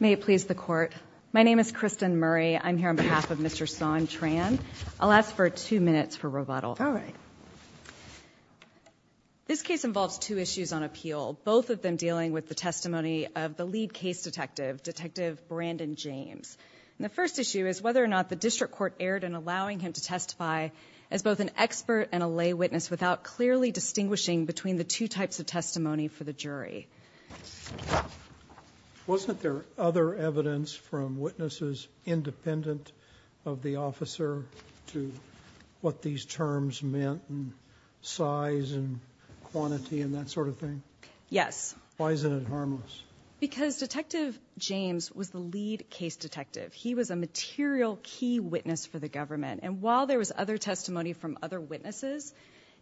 May it please the court. My name is Kristen Murray. I'm here on behalf of Mr. Son Tran. I'll ask for two minutes for rebuttal. All right. This case involves two issues on appeal, both of them dealing with the testimony of the lead case detective, Detective Brandon James. The first issue is whether or not the district court erred in allowing him to testify as both an expert and a lay witness without clearly distinguishing between the two types of testimony for the jury. Wasn't there other evidence from witnesses independent of the officer to what these terms meant and size and quantity and that sort of thing? Yes. Because Detective James was the lead case detective. He was a material key witness for the government. And while there was other testimony from other witnesses,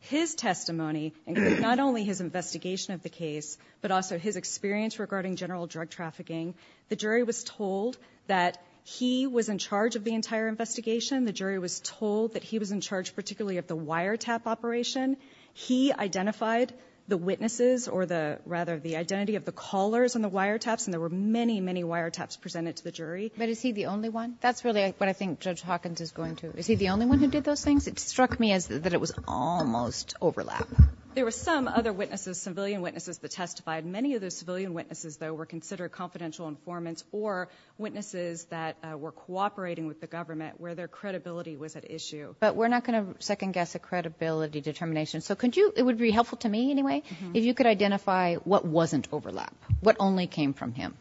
his testimony and not only his investigation of the case, but also his experience regarding general drug trafficking. The jury was told that he was in charge of the entire investigation. The jury was told that he was in charge particularly of the wiretap operation. He identified the witnesses or the rather the identity of the callers on the wiretaps. And there were many, many wiretaps presented to the jury. But is he the only one? That's really what I think Judge Hawkins is going to. Is he the only one who did those things? It struck me as that it was almost overlap. There were some other witnesses, civilian witnesses that testified. Many of the civilian witnesses, though, were considered confidential informants or witnesses that were cooperating with the government where their credibility was at issue. But we're not going to second guess a credibility determination. So could you it would be helpful to me anyway, if you could identify what wasn't overlap? What only came from him?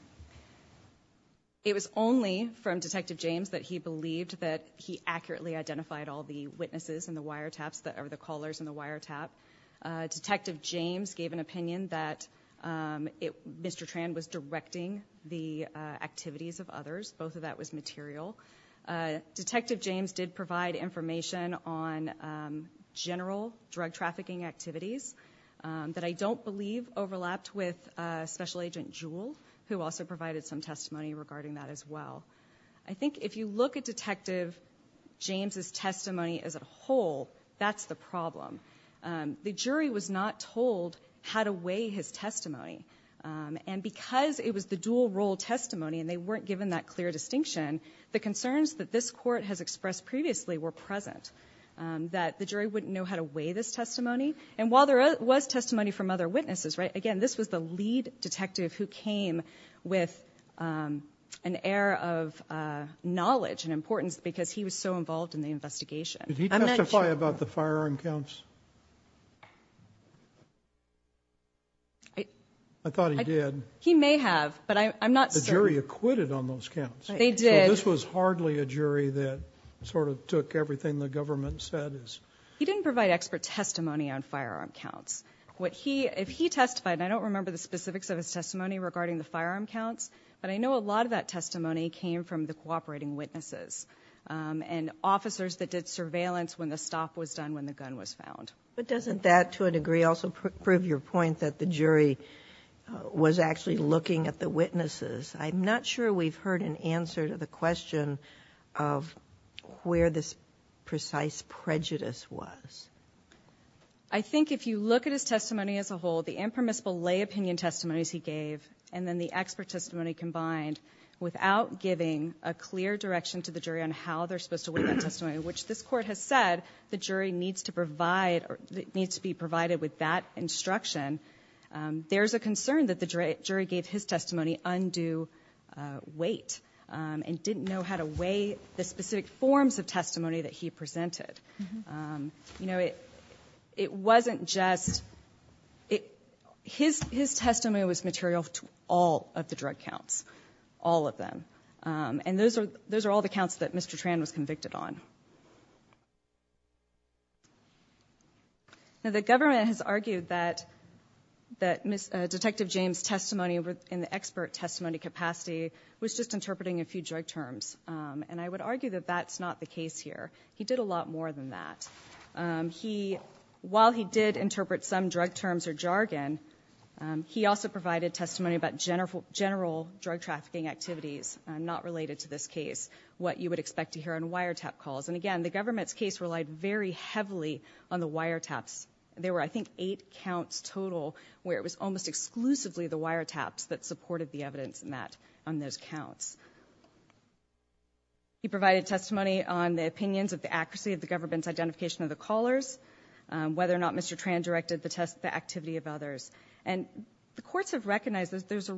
It was only from Detective James that he believed that he accurately identified all the witnesses in the wiretaps that are the callers in the wiretap. Detective James gave an opinion that Mr. Tran was directing the activities of others. Both of that was material. Detective James did provide information on general drug trafficking activities that I don't believe overlapped with Special Agent Jewell, who also provided some testimony regarding that as well. I think if you look at Detective James' testimony as a whole, that's the problem. The jury was not told how to weigh his testimony. And because it was the dual role testimony and they weren't given that clear distinction, the concerns that this court has expressed previously were present. That the jury wouldn't know how to weigh this testimony. And while there was testimony from other witnesses, right, again, this was the lead detective who came with an air of knowledge and importance because he was so involved in the investigation. Did he testify about the firearm counts? I thought he did. He may have, but I'm not certain. The jury acquitted on those counts. They did. This was hardly a jury that sort of took everything the government said. He didn't provide expert testimony on firearm counts. If he testified, and I don't remember the specifics of his testimony regarding the firearm counts, but I know a lot of that testimony came from the cooperating witnesses. And officers that did surveillance when the stop was done when the gun was found. But doesn't that, to a degree, also prove your point that the jury was actually looking at the witnesses? I'm not sure we've heard an answer to the question of where this precise prejudice was. I think if you look at his testimony as a whole, the impermissible lay opinion testimonies he gave and then the expert testimony combined without giving a clear direction to the jury on how they're supposed to weigh that testimony. Which this court has said the jury needs to be provided with that instruction. There's a concern that the jury gave his testimony undue weight and didn't know how to weigh the specific forms of testimony that he presented. It wasn't just, his testimony was material to all of the drug counts, all of them. And those are all the counts that Mr. Tran was convicted on. Now the government has argued that Detective James' testimony in the expert testimony capacity was just interpreting a few drug terms. And I would argue that that's not the case here. He did a lot more than that. While he did interpret some drug terms or jargon, he also provided testimony about general drug trafficking activities not related to this case. What you would expect to hear on wiretap calls. And again, the government's case relied very heavily on the wiretaps. There were, I think, eight counts total where it was almost exclusively the wiretaps that supported the evidence met on those counts. He provided testimony on the opinions of the accuracy of the government's identification of the callers, whether or not Mr. Tran directed the activity of others. And the courts have recognized that there's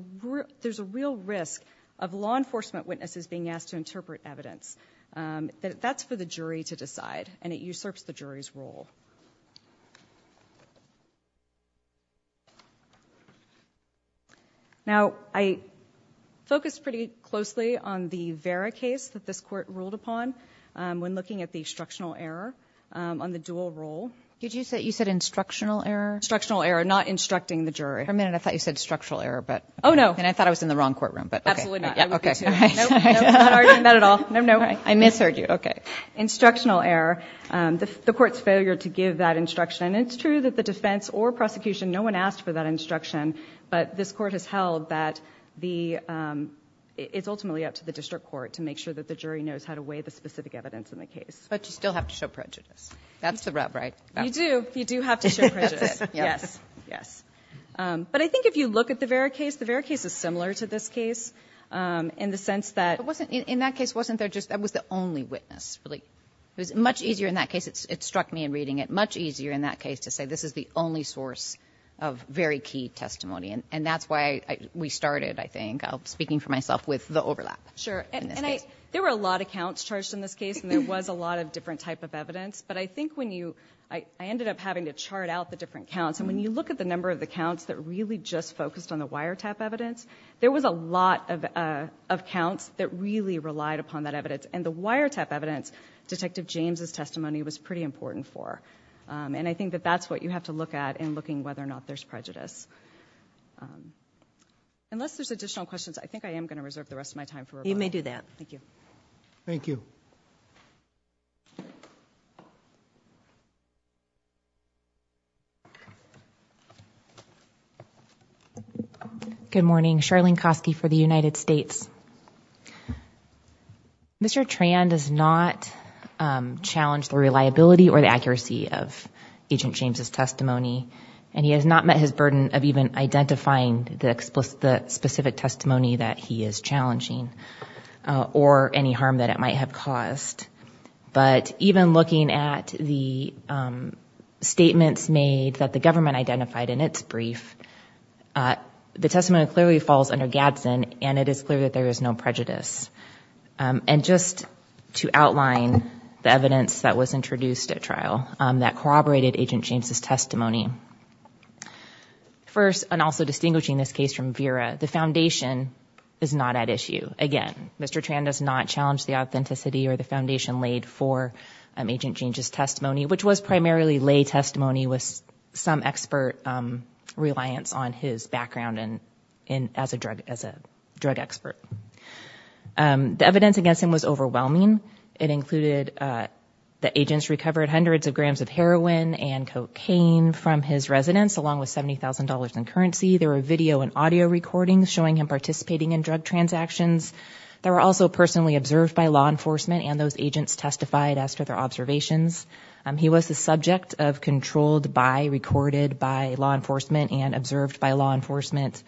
a real risk of law enforcement witnesses being asked to interpret evidence. That's for the jury to decide, and it usurps the jury's role. Now I focused pretty closely on the Vera case that this court ruled upon when looking at the instructional error on the dual role. Did you say you said instructional error? Instructional error, not instructing the jury. For a minute I thought you said structural error. Oh, no. And I thought I was in the wrong courtroom. Absolutely not. Okay. Not at all. I misheard you. Okay. Instructional error. The court's failure to give that instruction. And it's true that the defense or prosecution, no one asked for that instruction. But this court has held that it's ultimately up to the district court to make sure that the jury knows how to weigh the specific evidence in the case. But you still have to show prejudice. That's the rub, right? You do. You do have to show prejudice. Yes. Yes. But I think if you look at the Vera case, the Vera case is similar to this case in the sense that... In that case, wasn't there just, that was the only witness. It was much easier in that case, it struck me in reading it, much easier in that case to say this is the only source of very key testimony. And that's why we started, I think, speaking for myself, with the overlap in this case. Sure. And there were a lot of counts charged in this case, and there was a lot of different type of evidence. But I think when you, I ended up having to chart out the different counts. And when you look at the number of the counts that really just focused on the wiretap evidence, there was a lot of counts that really relied upon that evidence. And the wiretap evidence, Detective James' testimony, was pretty important for. And I think that that's what you have to look at in looking whether or not there's prejudice. Unless there's additional questions, I think I am going to reserve the rest of my time for rebuttal. You may do that. Thank you. Thank you. Good morning. Charlene Kosky for the United States. Mr. Tran does not challenge the reliability or the accuracy of Agent James' testimony. And he has not met his burden of even identifying the specific testimony that he is challenging or any harm that it might have caused. But even looking at the statements made that the government identified in its brief, the testimony clearly falls under Gadsden, and it is clear that there is no prejudice. And just to outline the evidence that was introduced at trial that corroborated Agent James' testimony. First, and also distinguishing this case from Vera, the foundation is not at issue. Again, Mr. Tran does not challenge the authenticity or the foundation laid for Agent James' testimony, which was primarily lay testimony with some expert reliance on his background as a drug expert. The evidence against him was overwhelming. It included that agents recovered hundreds of grams of heroin and cocaine from his residence, along with $70,000 in currency. There were video and audio recordings showing him participating in drug transactions. They were also personally observed by law enforcement, and those agents testified as to their observations. He was the subject of controlled by, recorded by law enforcement, and observed by law enforcement.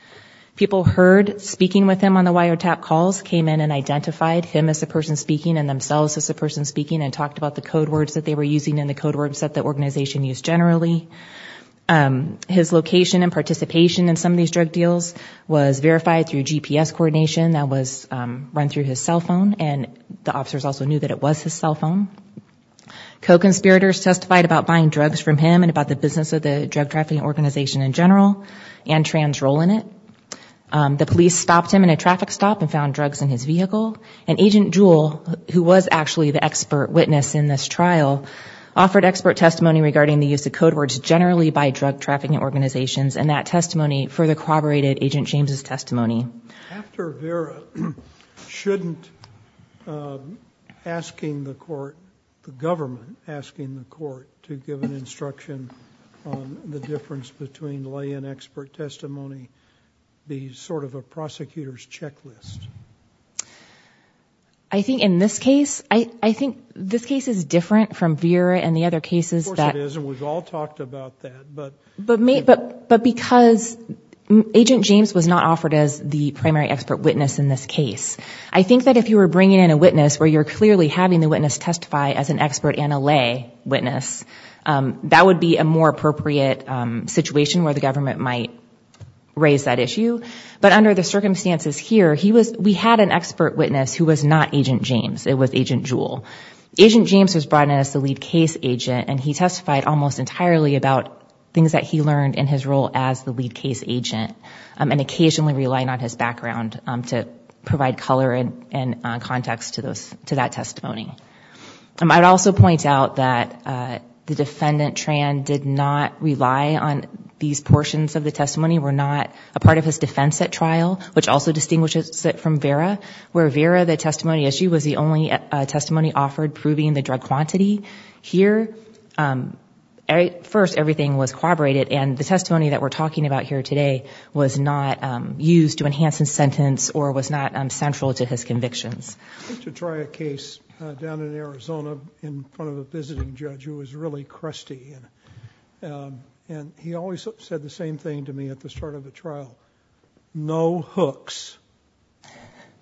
People heard speaking with him on the wiretap calls, came in and identified him as the person speaking and themselves as the person speaking, and talked about the code words that they were using and the code words that the organization used generally. His location and participation in some of these drug deals was verified through GPS coordination that was run through his cell phone, and the officers also knew that it was his cell phone. Co-conspirators testified about buying drugs from him and about the business of the drug trafficking organization in general and Tran's role in it. The police stopped him in a traffic stop and found drugs in his vehicle. And Agent Jewell, who was actually the expert witness in this trial, offered expert testimony regarding the use of code words generally by drug trafficking organizations, and that testimony further corroborated Agent James' testimony. After Vera, shouldn't asking the court, the government asking the court, to give an instruction on the difference between lay and expert testimony be sort of a prosecutor's checklist? I think in this case, I think this case is different from Vera and the other cases that... Of course it is, and we've all talked about that, but... I think that if you were bringing in a witness where you're clearly having the witness testify as an expert and a lay witness, that would be a more appropriate situation where the government might raise that issue. But under the circumstances here, we had an expert witness who was not Agent James. It was Agent Jewell. Agent James was brought in as the lead case agent, and he testified almost entirely about things that he learned in his role as the lead case agent, and occasionally relying on his background to provide color and context to that testimony. I would also point out that the defendant, Tran, did not rely on these portions of the testimony, were not a part of his defense at trial, which also distinguishes it from Vera, where Vera, the testimony issue, was the only testimony offered proving the drug quantity. Here, at first, everything was corroborated, and the testimony that we're talking about here today was not used to enhance his sentence or was not central to his convictions. I went to try a case down in Arizona in front of a visiting judge who was really crusty, and he always said the same thing to me at the start of the trial. No hooks.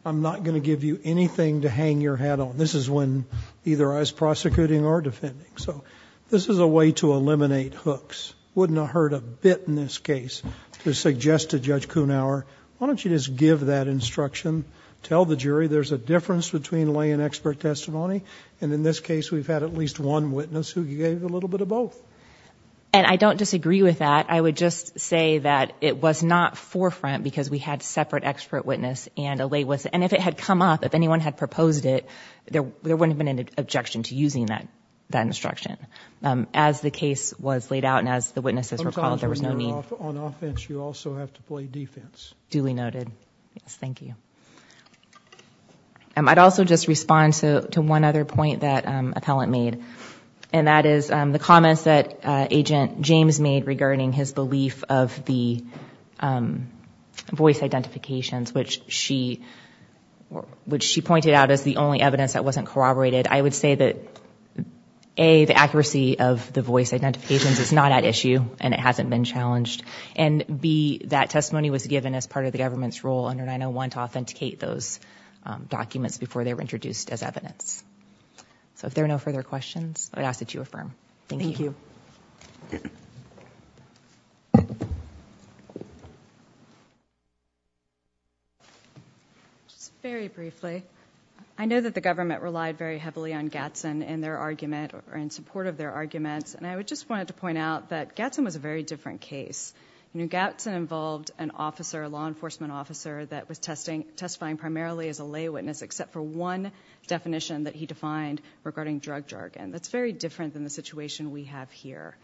I'm not going to give you anything to hang your head on. This is when either I was prosecuting or defending. So this is a way to eliminate hooks. Wouldn't have hurt a bit in this case to suggest to Judge Kuhnhauer, why don't you just give that instruction, tell the jury there's a difference between lay and expert testimony, and in this case we've had at least one witness who gave a little bit of both. And I don't disagree with that. I would just say that it was not forefront because we had separate expert witness, and if it had come up, if anyone had proposed it, there wouldn't have been an objection to using that instruction. As the case was laid out and as the witnesses recalled, there was no need. Sometimes when you're on offense, you also have to play defense. Duly noted. Yes, thank you. I'd also just respond to one other point that Appellant made, and that is the comments that Agent James made regarding his belief of the voice identifications, which she pointed out as the only evidence that wasn't corroborated. I would say that A, the accuracy of the voice identifications is not at issue and it hasn't been challenged, and B, that testimony was given as part of the government's role under 901 to authenticate those documents before they were introduced as evidence. So if there are no further questions, I'd ask that you affirm. Thank you. Thank you. Just very briefly, I know that the government relied very heavily on Gatson in their argument or in support of their arguments, and I just wanted to point out that Gatson was a very different case. Gatson involved an officer, a law enforcement officer, that was testifying primarily as a lay witness except for one definition that he defined regarding drug jargon. That's very different than the situation we have here.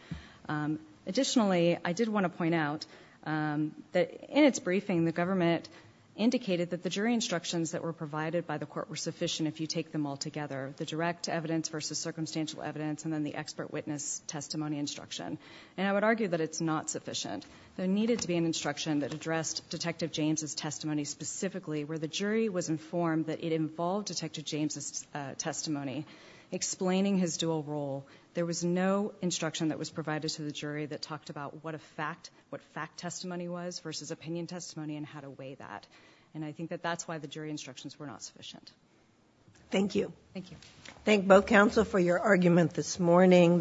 Additionally, I did want to point out that in its briefing, the government indicated that the jury instructions that were provided by the court were sufficient if you take them all together, the direct evidence versus circumstantial evidence and then the expert witness testimony instruction. I would argue that it's not sufficient. There needed to be an instruction that addressed Detective James' testimony specifically where the jury was informed that it involved Detective James' testimony. Explaining his dual role, there was no instruction that was provided to the jury that talked about what a fact, what fact testimony was versus opinion testimony and how to weigh that. And I think that that's why the jury instructions were not sufficient. Thank you. Thank you. Thank both counsel for your argument this morning.